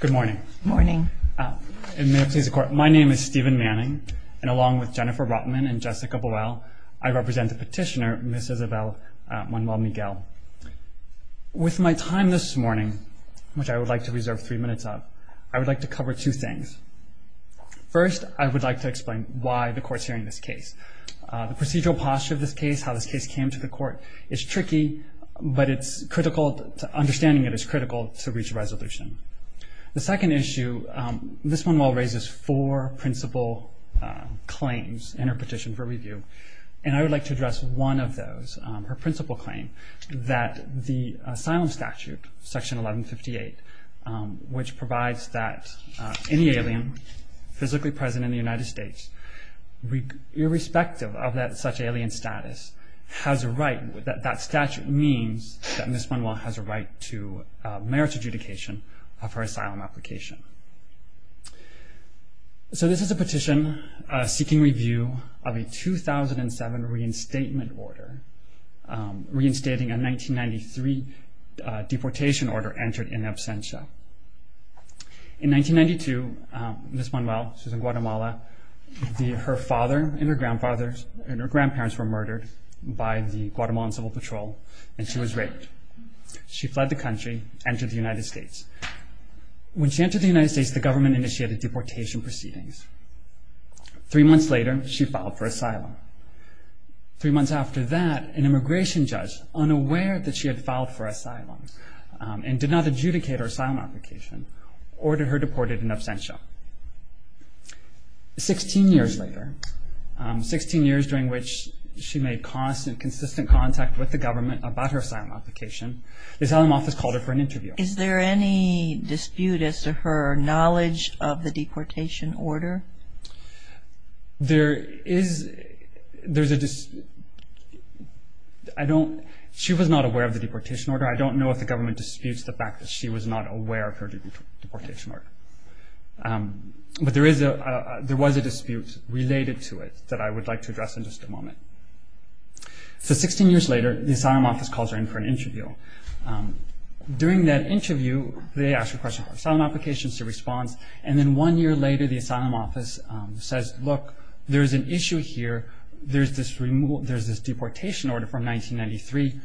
Good morning. Good morning. May it please the Court, my name is Stephen Manning, and along with Jennifer Rotman and Jessica Boyle, I represent the petitioner, Ms. Isabel Manuel-Miguel. With my time this morning, which I would like to reserve three minutes of, I would like to cover two things. First, I would like to explain why the Court's hearing this case. The procedural posture of this case, how this case came to the Court, is tricky, but it's understanding it is critical to reach a resolution. The second issue, Ms. Manuel raises four principal claims in her petition for review, and I would like to address one of those, her principal claim, that the asylum statute, section 1158, which provides that any alien physically present in the United States, irrespective of such alien status, has a right, that that statute means that Ms. Manuel has a right to merits adjudication of her asylum application. So this is a petition seeking review of a 2007 reinstatement order, reinstating a 1993 deportation order entered in absentia. In 1992, Ms. Manuel, she was in Guatemala, her father and her grandfathers and her grandparents were murdered by the Guatemalan Civil Patrol, and she was raped. She fled the country, entered the United States. When she entered the United States, the government initiated deportation proceedings. Three months later, she filed for asylum. Three months after that, an immigration judge, unaware that she had filed for asylum, and did not adjudicate her asylum application, ordered her deported in absentia. Sixteen years later, 16 years during which she made constant, consistent contact with the government about her asylum application, the asylum office called her for an interview. Is there any dispute as to her knowledge of the deportation order? There is, there's a dispute, I don't, she was not aware of the deportation order. I don't know if the government disputes the fact that she was not aware of her deportation order. But there is a, there was a dispute related to it that I would like to address in just a moment. So 16 years later, the asylum office calls her in for an interview. During that interview, they ask her questions about her asylum application, she responds, and then one year later, the asylum office says, look, there's an issue here, there's this removal, there's this deportation order from 1993,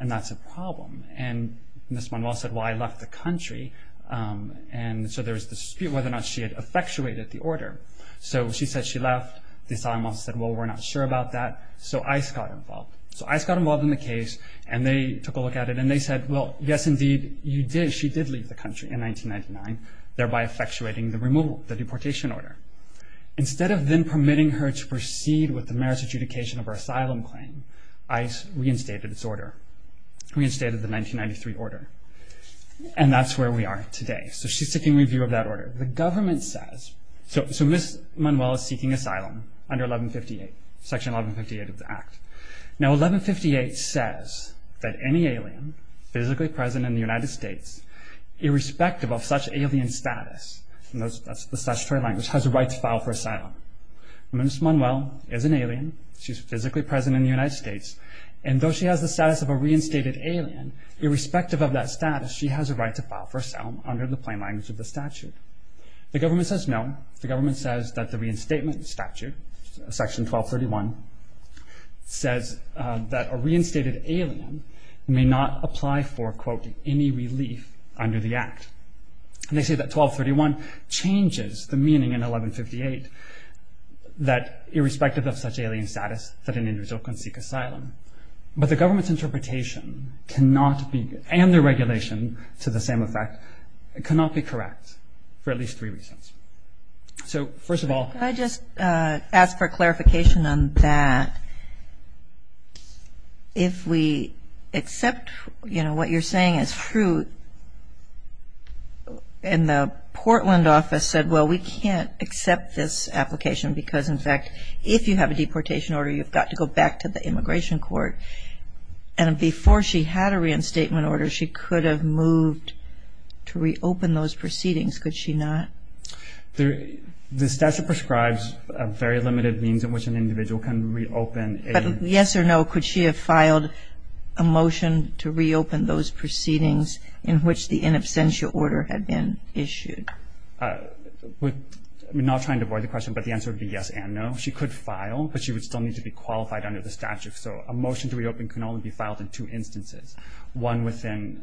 and that's a problem. And Ms. Manuel said, well, I left the country, and so there was this dispute whether or not she had effectuated the order. So she said she left, the asylum office said, well, we're not sure about that, so ICE got involved. So ICE got involved in the case, and they took a look at it, and they said, well, yes, indeed, you did, she did leave the country in 1999, thereby effectuating the removal, the deportation order. Instead of then permitting her to proceed with the merits adjudication of her asylum claim, ICE reinstated its order, reinstated the 1993 order. And that's where we are today. So she's seeking review of that order. The government says, so Ms. Manuel is seeking asylum under 1158, Section 1158 of the Act. Now 1158 says that any alien physically present in the United States, irrespective of such a language, has a right to file for asylum. Ms. Manuel is an alien. She's physically present in the United States. And though she has the status of a reinstated alien, irrespective of that status, she has a right to file for asylum under the plain language of the statute. The government says no. The government says that the reinstatement statute, Section 1231, says that a reinstated alien may not apply for, quote, any relief under the Act. And they say that 1231 changes the meaning in 1158, that irrespective of such alien status, that an individual can seek asylum. But the government's interpretation cannot be, and the regulation to the same effect, cannot be correct for at least three reasons. So first of all- Could I just ask for clarification on that? If we accept, you know, what you're saying is true, and the Portland office said, well, we can't accept this application because, in fact, if you have a deportation order, you've got to go back to the immigration court, and before she had a reinstatement order, she could have moved to reopen those proceedings, could she not? The statute prescribes a very limited means in which an individual can reopen a- But yes or no, could she have filed a motion to reopen those proceedings in which the in absentia order had been issued? We're not trying to avoid the question, but the answer would be yes and no. She could file, but she would still need to be qualified under the statute. So a motion to reopen can only be filed in two instances. One within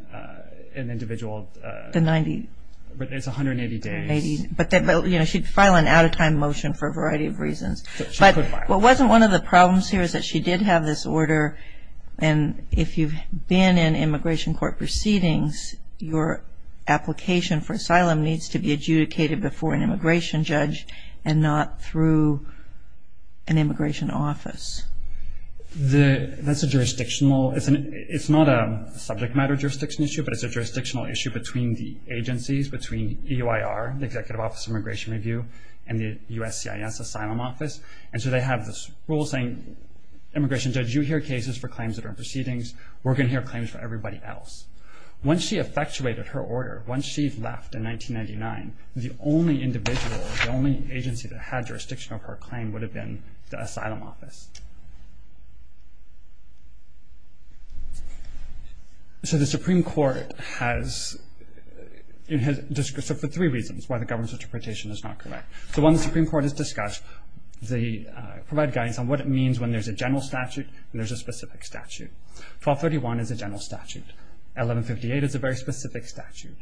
an individual- The 90- But it's 180 days. But, you know, she'd file an out-of-time motion for a variety of reasons. But what wasn't one of the problems here is that she did have this order, and if you've been in immigration court proceedings, your application for asylum needs to be adjudicated before an immigration judge and not through an immigration office. That's a jurisdictional- It's not a subject matter jurisdiction issue, but it's a jurisdictional issue between the agencies, between EOIR, the Executive Office of Immigration Review, and the USCIS Asylum Office. And so they have this rule saying, immigration judge, you hear cases for claims that are in proceedings. We're going to hear claims for everybody else. Once she effectuated her order, once she left in 1999, the only individual, the only agency that had jurisdiction over her claim would have been the asylum office. So the Supreme Court has- for three reasons why the government's interpretation is not correct. So when the Supreme Court is discussed, they provide guidance on what it means when there's a general statute and there's a specific statute. 1231 is a general statute. 1158 is a very specific statute.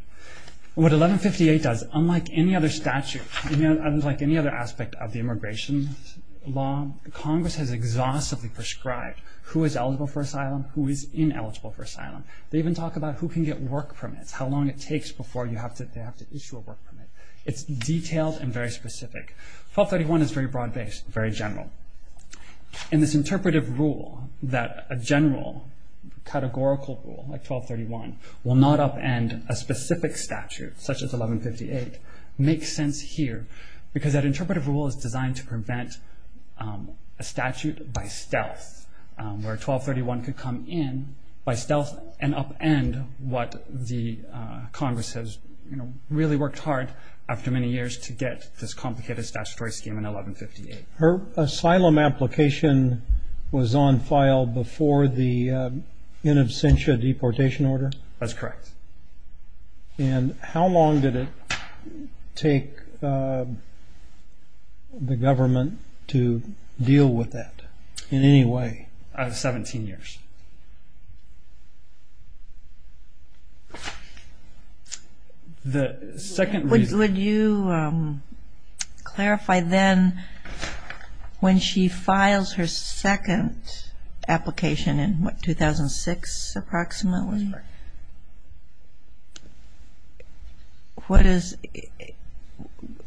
What 1158 does, unlike any other statute, unlike any other aspect of the immigration law, Congress has exhaustively prescribed who is eligible for asylum, who is ineligible for asylum. They even talk about who can get work permits, how long it takes before they have to issue a work permit. It's detailed and very specific. 1231 is very broad-based, very general. And this interpretive rule, that a general categorical rule like 1231 will not upend a specific statute, such as 1158, makes sense here because that interpretive rule is designed to prevent a statute by stealth, where 1231 could come in by stealth and upend what the Congress has really worked hard after many years to get this complicated statutory scheme in 1158. Her asylum application was on file before the in absentia deportation order? That's correct. And how long did it take the government to deal with that, in any way? 17 years. The second reason... Would you clarify then, when she files her second application in what, 2006 approximately?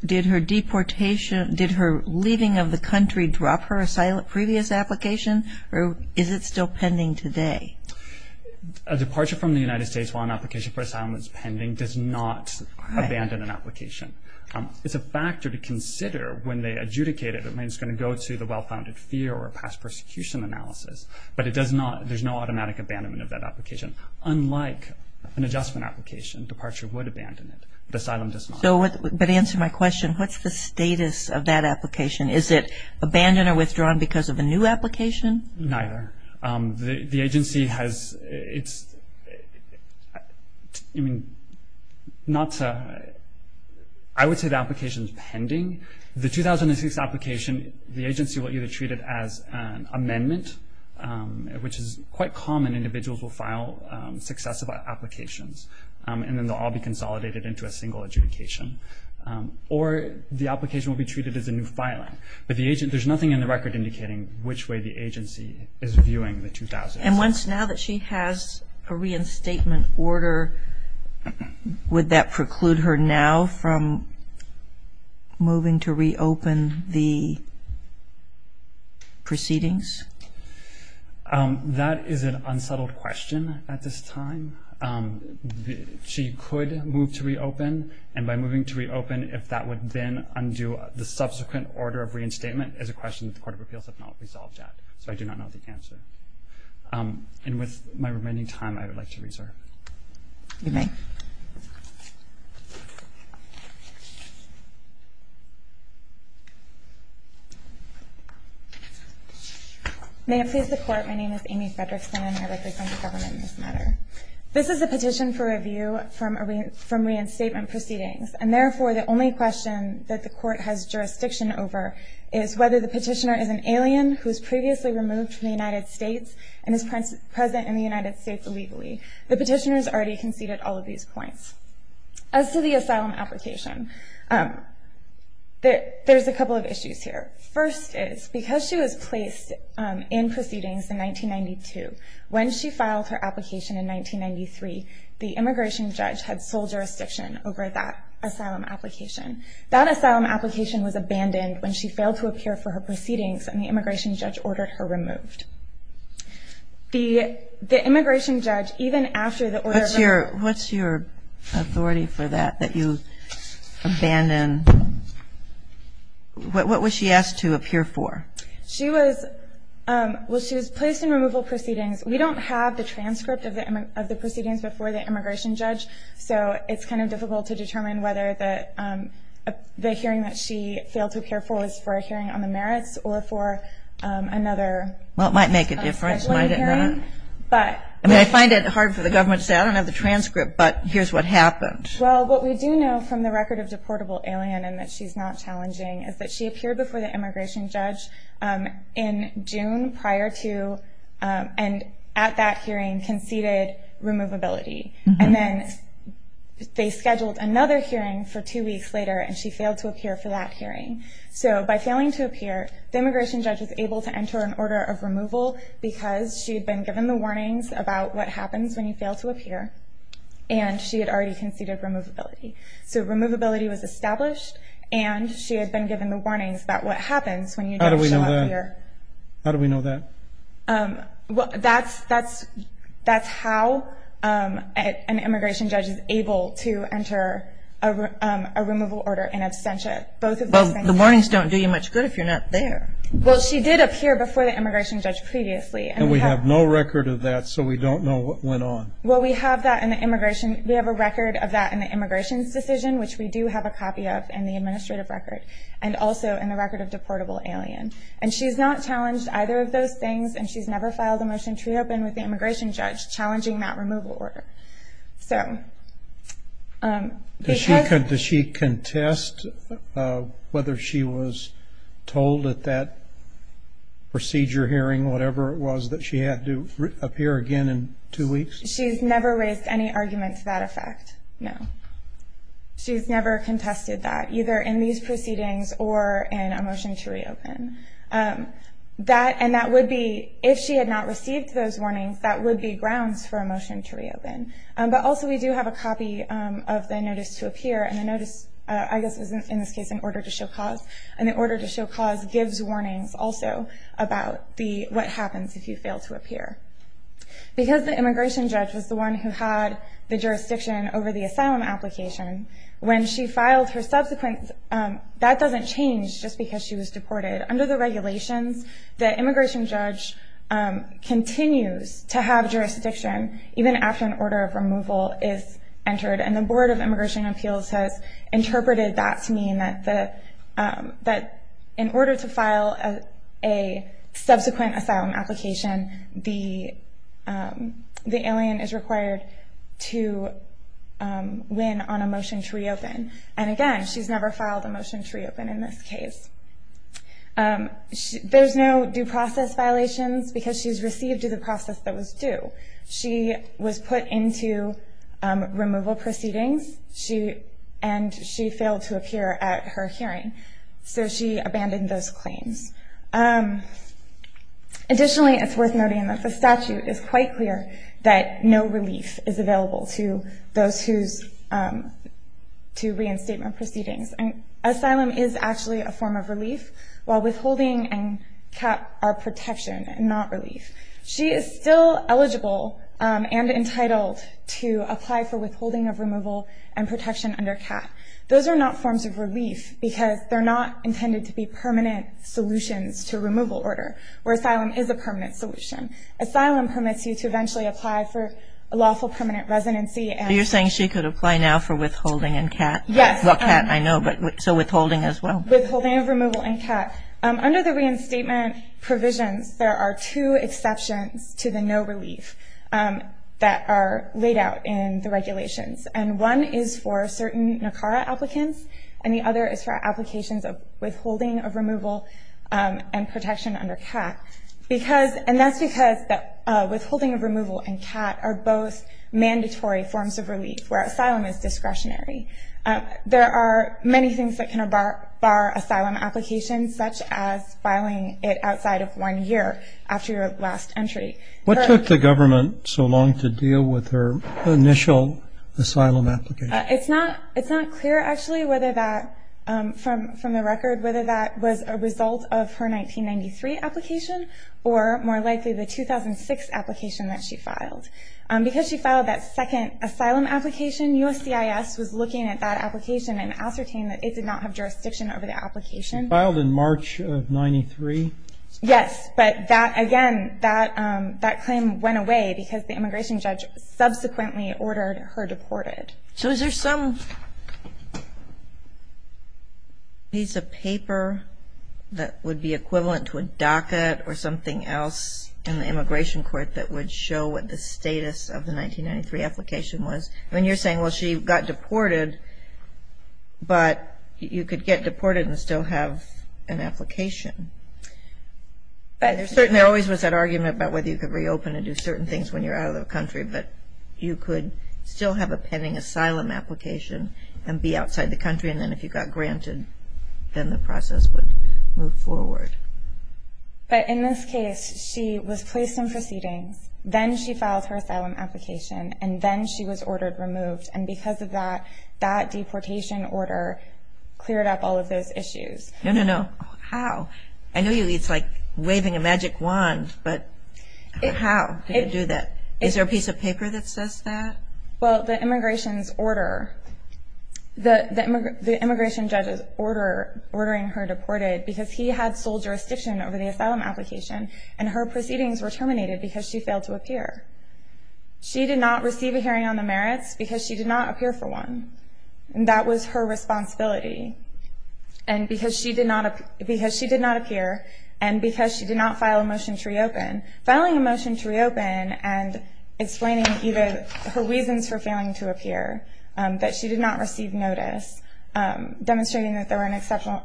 Did her leaving of the country drop her previous application, or is it still pending today? A departure from the United States while an application for asylum is pending does not abandon an application. It's a factor to consider when they adjudicate it. I mean, it's going to go to the well-founded fear or past persecution analysis, but there's no automatic abandonment of that application. Unlike an adjustment application, departure would abandon it, but asylum does not. But to answer my question, what's the status of that application? Is it abandoned or withdrawn because of a new application? Neither. The agency has... I would say the application is pending. Which is quite common. Individuals will file successive applications, and then they'll all be consolidated into a single adjudication. Or the application will be treated as a new filing. But there's nothing in the record indicating which way the agency is viewing the 2006. And once now that she has a reinstatement order, would that preclude her now from moving to reopen the proceedings? That is an unsettled question at this time. She could move to reopen, and by moving to reopen, if that would then undo the subsequent order of reinstatement, is a question that the Court of Appeals have not resolved yet. So I do not know the answer. And with my remaining time, I would like to reserve. You may. May it please the Court, my name is Amy Fredrickson, and I represent the government in this matter. This is a petition for review from reinstatement proceedings. And therefore, the only question that the Court has jurisdiction over is whether the petitioner is an alien who was previously removed from the United States and is present in the United States illegally. The petitioner has already conceded all of these points. As to the asylum application, there's a couple of issues here. First is, because she was placed in proceedings in 1992, when she filed her application in 1993, the immigration judge had sole jurisdiction over that asylum application. That asylum application was abandoned when she failed to appear for her proceedings and the immigration judge ordered her removed. The immigration judge, even after the order was removed. What's your authority for that, that you abandon? What was she asked to appear for? She was placed in removal proceedings. We don't have the transcript of the proceedings before the immigration judge, so it's kind of difficult to determine whether the hearing that she failed to appear for was for a hearing on the merits or for another asylum hearing. Well, it might make a difference, might it not? I mean, I find it hard for the government to say, I don't have the transcript, but here's what happened. Well, what we do know from the record of deportable alien and that she's not challenging is that she appeared before the immigration judge in June prior to and at that hearing conceded removability. And then they scheduled another hearing for two weeks later and she failed to appear for that hearing. So by failing to appear, the immigration judge was able to enter an order of removal because she had been given the warnings about what happens when you fail to appear and she had already conceded removability. So removability was established and she had been given the warnings about what happens when you don't show up here. How do we know that? Well, that's how an immigration judge is able to enter a removal order in absentia. Well, the warnings don't do you much good if you're not there. Well, she did appear before the immigration judge previously. And we have no record of that, so we don't know what went on. Well, we have a record of that in the immigration's decision, which we do have a copy of in the administrative record, and also in the record of deportable alien. And she's not challenged either of those things and she's never filed a motion to reopen with the immigration judge challenging that removal order. So because... Does she contest whether she was told at that procedure hearing, whatever it was, that she had to appear again in two weeks? She's never raised any argument to that effect, no. She's never contested that, either in these proceedings or in a motion to reopen. And that would be, if she had not received those warnings, that would be grounds for a motion to reopen. But also we do have a copy of the notice to appear, and the notice, I guess, is in this case an order to show cause. And the order to show cause gives warnings also about what happens if you fail to appear. Because the immigration judge was the one who had the jurisdiction over the asylum application, when she filed her subsequent... That doesn't change just because she was deported. Under the regulations, the immigration judge continues to have jurisdiction even after an order of removal is entered. And the Board of Immigration Appeals has interpreted that to mean that in order to file a subsequent asylum application, the alien is required to win on a motion to reopen. And again, she's never filed a motion to reopen in this case. There's no due process violations because she's received due to the process that was due. She was put into removal proceedings, and she failed to appear at her hearing. So she abandoned those claims. Additionally, it's worth noting that the statute is quite clear that no relief is available to those who... to reinstatement proceedings. Asylum is actually a form of relief, while withholding and cap are protection and not relief. She is still eligible and entitled to apply for withholding of removal and protection under cap. Those are not forms of relief because they're not intended to be permanent solutions to removal order, where asylum is a permanent solution. Asylum permits you to eventually apply for a lawful permanent residency and... You're saying she could apply now for withholding and cap? Yes. I know, but so withholding as well? Withholding of removal and cap. Under the reinstatement provisions, there are two exceptions to the no relief that are laid out in the regulations. And one is for certain NACARA applicants, and the other is for applications of withholding of removal and protection under cap. Because... And that's because withholding of removal and cap are both mandatory forms of relief, where asylum is discretionary. There are many things that can bar asylum applications, such as filing it outside of one year after your last entry. What took the government so long to deal with her initial asylum application? It's not clear, actually, whether that, from the record, whether that was a result of her 1993 application or, more likely, the 2006 application that she filed. Because she filed that second asylum application, USCIS was looking at that application and ascertained that it did not have jurisdiction over the application. She filed in March of 93? Yes. But that, again, that claim went away because the immigration judge subsequently ordered her deported. So is there some piece of paper that would be equivalent to a docket or something else in the immigration court that would show what the status of the 1993 application was? I mean, you're saying, well, she got deported, but you could get deported and still have an application. There always was that argument about whether you could reopen and do certain things when you're out of the country, but you could still have a pending asylum application and be outside the country, and then if you got granted, then the process would move forward. But in this case, she was placed in proceedings, then she filed her asylum application, and then she was ordered removed. And because of that, that deportation order cleared up all of those issues. No, no, no. How? I know it's like waving a magic wand, but how did it do that? Is there a piece of paper that says that? Well, the immigration judge's order ordering her deported because he had sole jurisdiction over the asylum application, and her proceedings were terminated because she failed to appear. She did not receive a hearing on the merits because she did not appear for one, and that was her responsibility. And because she did not appear and because she did not file a motion to reopen, filing a motion to reopen and explaining either her reasons for failing to appear, that she did not receive notice, demonstrating that there were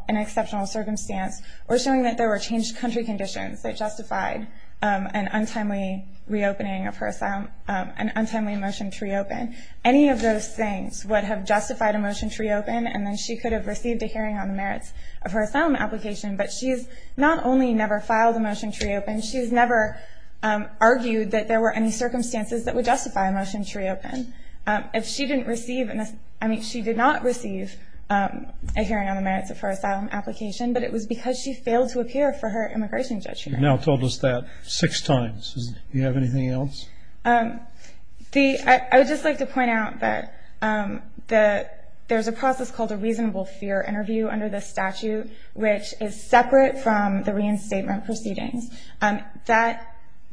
an exceptional circumstance or showing that there were changed country conditions that justified an untimely reopening of her asylum, an untimely motion to reopen. Any of those things would have justified a motion to reopen, and then she could have received a hearing on the merits of her asylum application. But she has not only never filed a motion to reopen, she has never argued that there were any circumstances that would justify a motion to reopen. If she didn't receive a hearing on the merits of her asylum application, but it was because she failed to appear for her immigration judge hearing. You've now told us that six times. Do you have anything else? I would just like to point out that there's a process called a reasonable fear interview under this statute, which is separate from the reinstatement proceedings.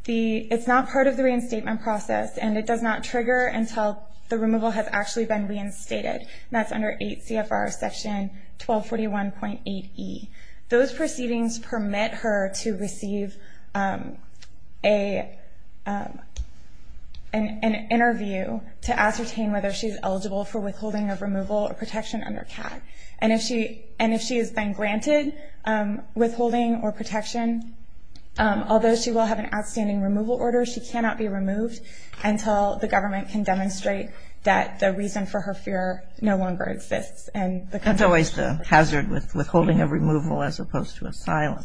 It's not part of the reinstatement process, and it does not trigger until the removal has actually been reinstated. That's under 8 CFR section 1241.8E. Those proceedings permit her to receive an interview to ascertain whether she's eligible for withholding of removal or protection under CAT. And if she is then granted withholding or protection, although she will have an outstanding removal order, until the government can demonstrate that the reason for her fear no longer exists. That's always the hazard with withholding of removal as opposed to asylum.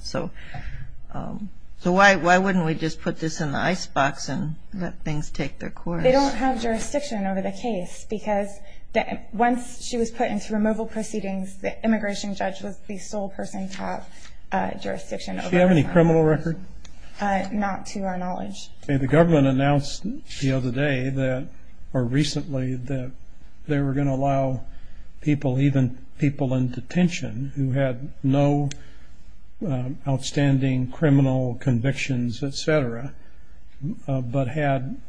So why wouldn't we just put this in the icebox and let things take their course? They don't have jurisdiction over the case because once she was put into removal proceedings, the immigration judge was the sole person to have jurisdiction. Does she have any criminal record? Not to our knowledge. The government announced the other day, or recently, that they were going to allow people, even people in detention, who had no outstanding criminal convictions, et cetera, but had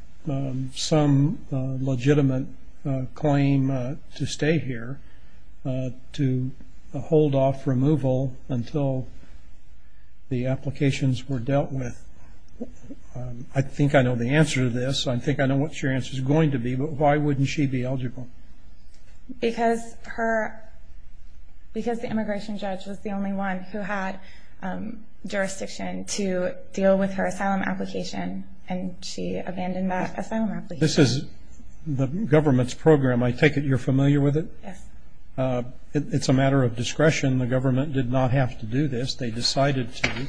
some legitimate claim to stay here to hold off removal until the applications were dealt with. I think I know the answer to this. I think I know what your answer is going to be, but why wouldn't she be eligible? Because the immigration judge was the only one who had jurisdiction to deal with her asylum application, and she abandoned that asylum application. This is the government's program. I take it you're familiar with it? Yes. It's a matter of discretion. The government did not have to do this. They decided to.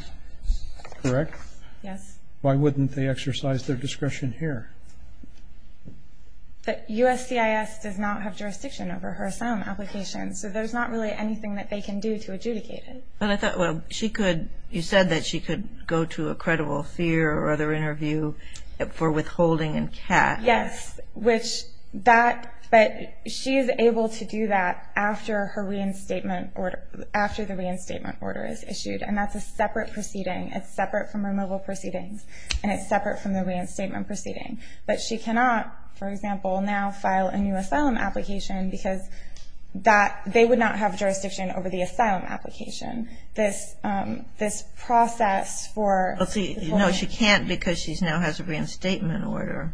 Correct? Yes. Why wouldn't they exercise their discretion here? The USCIS does not have jurisdiction over her asylum application, so there's not really anything that they can do to adjudicate it. But I thought she could go to a credible fear or other interview for withholding and cash. Yes, but she is able to do that after the reinstatement order is issued, and that's a separate proceeding. It's separate from removal proceedings, and it's separate from the reinstatement proceeding. But she cannot, for example, now file a new asylum application because they would not have jurisdiction over the asylum application. This process for withholding. No, she can't because she now has a reinstatement order.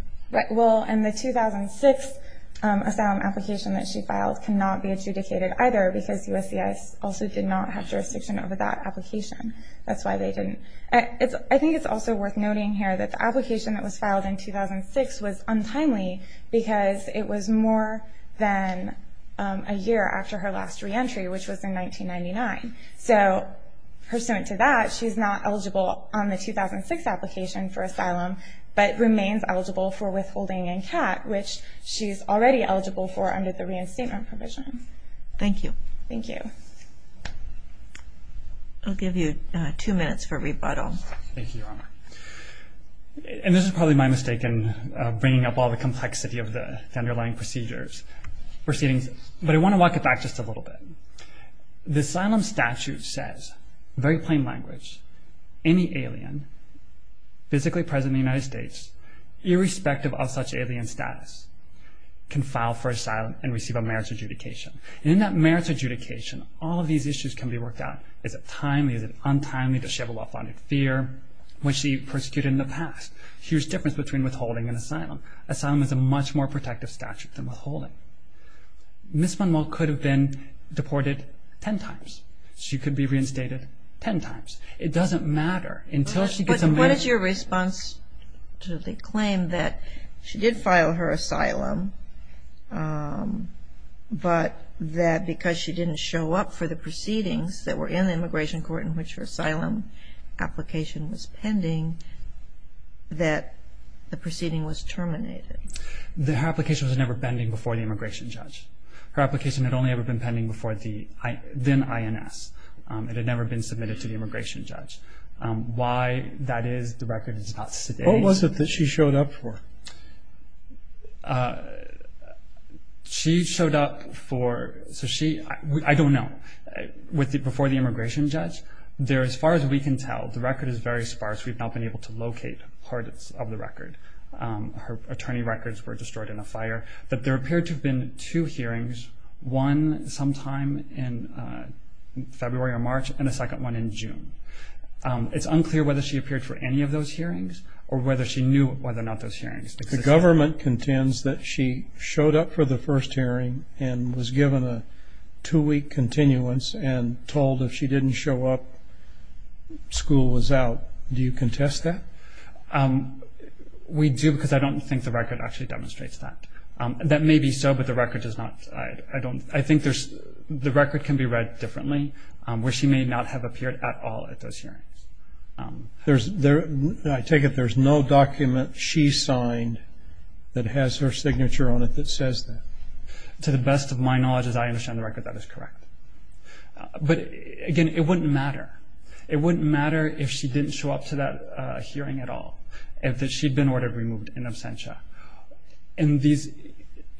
Well, and the 2006 asylum application that she filed cannot be adjudicated either because USCIS also did not have jurisdiction over that application. That's why they didn't. I think it's also worth noting here that the application that was filed in 2006 was untimely because it was more than a year after her last reentry, which was in 1999. So pursuant to that, she's not eligible on the 2006 application for asylum but remains eligible for withholding and cash, which she's already eligible for under the reinstatement provision. Thank you. Thank you. I'll give you two minutes for rebuttal. Thank you, Your Honor. And this is probably my mistake in bringing up all the complexity of the underlying procedures. But I want to walk it back just a little bit. The asylum statute says, in very plain language, any alien physically present in the United States, irrespective of such alien status, can file for asylum and receive a merits adjudication. And in that merits adjudication, all of these issues can be worked out. Is it timely? Is it untimely? Does she have a well-founded fear? Was she persecuted in the past? Here's the difference between withholding and asylum. Asylum is a much more protective statute than withholding. Ms. Van Molt could have been deported ten times. She could be reinstated ten times. It doesn't matter. What is your response to the claim that she did file her asylum, but that because she didn't show up for the proceedings that were in the immigration court in which her asylum application was pending, that the proceeding was terminated? Her application was never pending before the immigration judge. Her application had only ever been pending before the then INS. It had never been submitted to the immigration judge. Why that is, the record is not sedated. What was it that she showed up for? She showed up for, so she, I don't know, before the immigration judge. There, as far as we can tell, the record is very sparse. We've not been able to locate parts of the record. Her attorney records were destroyed in a fire. But there appeared to have been two hearings, one sometime in February or March and a second one in June. It's unclear whether she appeared for any of those hearings or whether she knew whether or not those hearings existed. The government contends that she showed up for the first hearing and was given a two-week continuance and told if she didn't show up, school was out. Do you contest that? We do because I don't think the record actually demonstrates that. That may be so, but the record does not. I think the record can be read differently, where she may not have appeared at all at those hearings. I take it there's no document she signed that has her signature on it that says that. To the best of my knowledge, as I understand the record, that is correct. But, again, it wouldn't matter. It wouldn't matter if she didn't show up to that hearing at all, if she'd been ordered removed in absentia. And these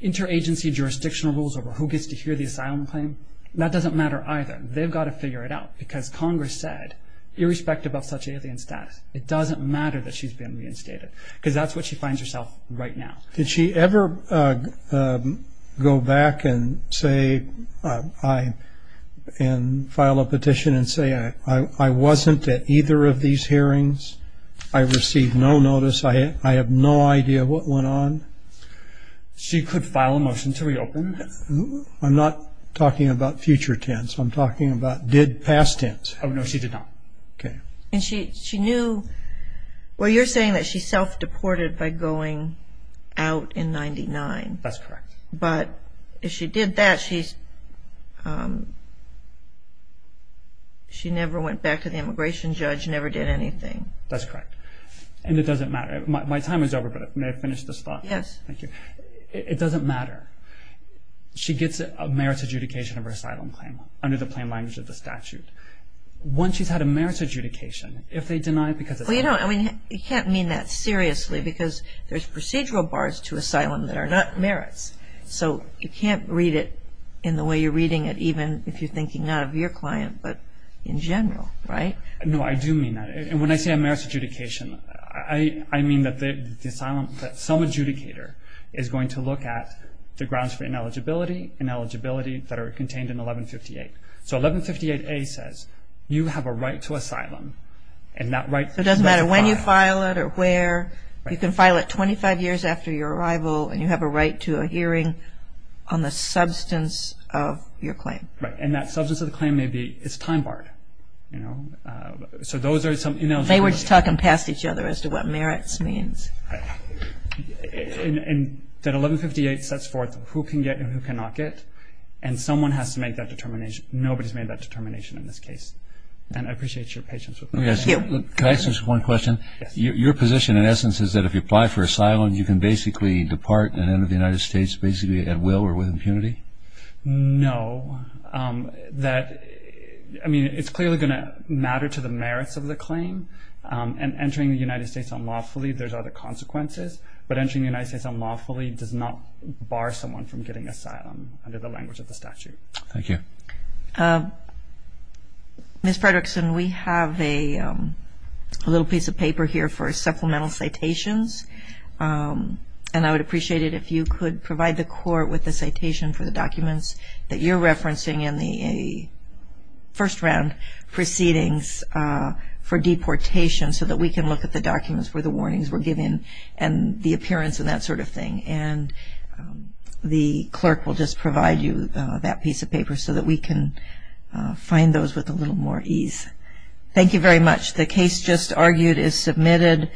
interagency jurisdictional rules over who gets to hear the asylum claim, that doesn't matter either. They've got to figure it out because Congress said, irrespective of such alien status, it doesn't matter that she's been reinstated because that's what she finds herself right now. Did she ever go back and file a petition and say, I wasn't at either of these hearings? I received no notice. I have no idea what went on. She could file a motion to reopen. I'm not talking about future tense. I'm talking about did past tense. Oh, no, she did not. Okay. And she knew, well, you're saying that she self-deported by going out in 99. That's correct. But if she did that, she never went back to the immigration judge, never did anything. That's correct. And it doesn't matter. My time is over, but may I finish this thought? Yes. Thank you. It doesn't matter. She gets a merits adjudication of her asylum claim under the plain language of the statute. Once she's had a merits adjudication, if they deny it because it's not her. Well, you know, I mean, you can't mean that seriously because there's procedural bars to asylum that are not merits. So you can't read it in the way you're reading it, even if you're thinking not of your client but in general, right? No, I do mean that. And when I say a merits adjudication, I mean that some adjudicator is going to look at the grounds for ineligibility and eligibility that are contained in 1158. So 1158A says you have a right to asylum, and that right can be filed. So it doesn't matter when you file it or where. You can file it 25 years after your arrival, and you have a right to a hearing on the substance of your claim. Right. And that substance of the claim may be it's time barred, you know. So those are some ineligibility. They were just talking past each other as to what merits means. Right. And that 1158 sets forth who can get and who cannot get, and someone has to make that determination. Nobody's made that determination in this case. And I appreciate your patience with that. Can I ask just one question? Your position, in essence, is that if you apply for asylum, you can basically depart and enter the United States basically at will or with impunity? No. I mean, it's clearly going to matter to the merits of the claim, and entering the United States unlawfully, there's other consequences. But entering the United States unlawfully does not bar someone from getting asylum under the language of the statute. Thank you. Ms. Fredrickson, we have a little piece of paper here for supplemental citations, and I would appreciate it if you could provide the Court with a citation for the documents that you're referencing in the first-round proceedings for deportation so that we can look at the documents where the warnings were given and the appearance and that sort of thing. And the clerk will just provide you that piece of paper so that we can find those with a little more ease. Thank you very much. The case just argued is submitted.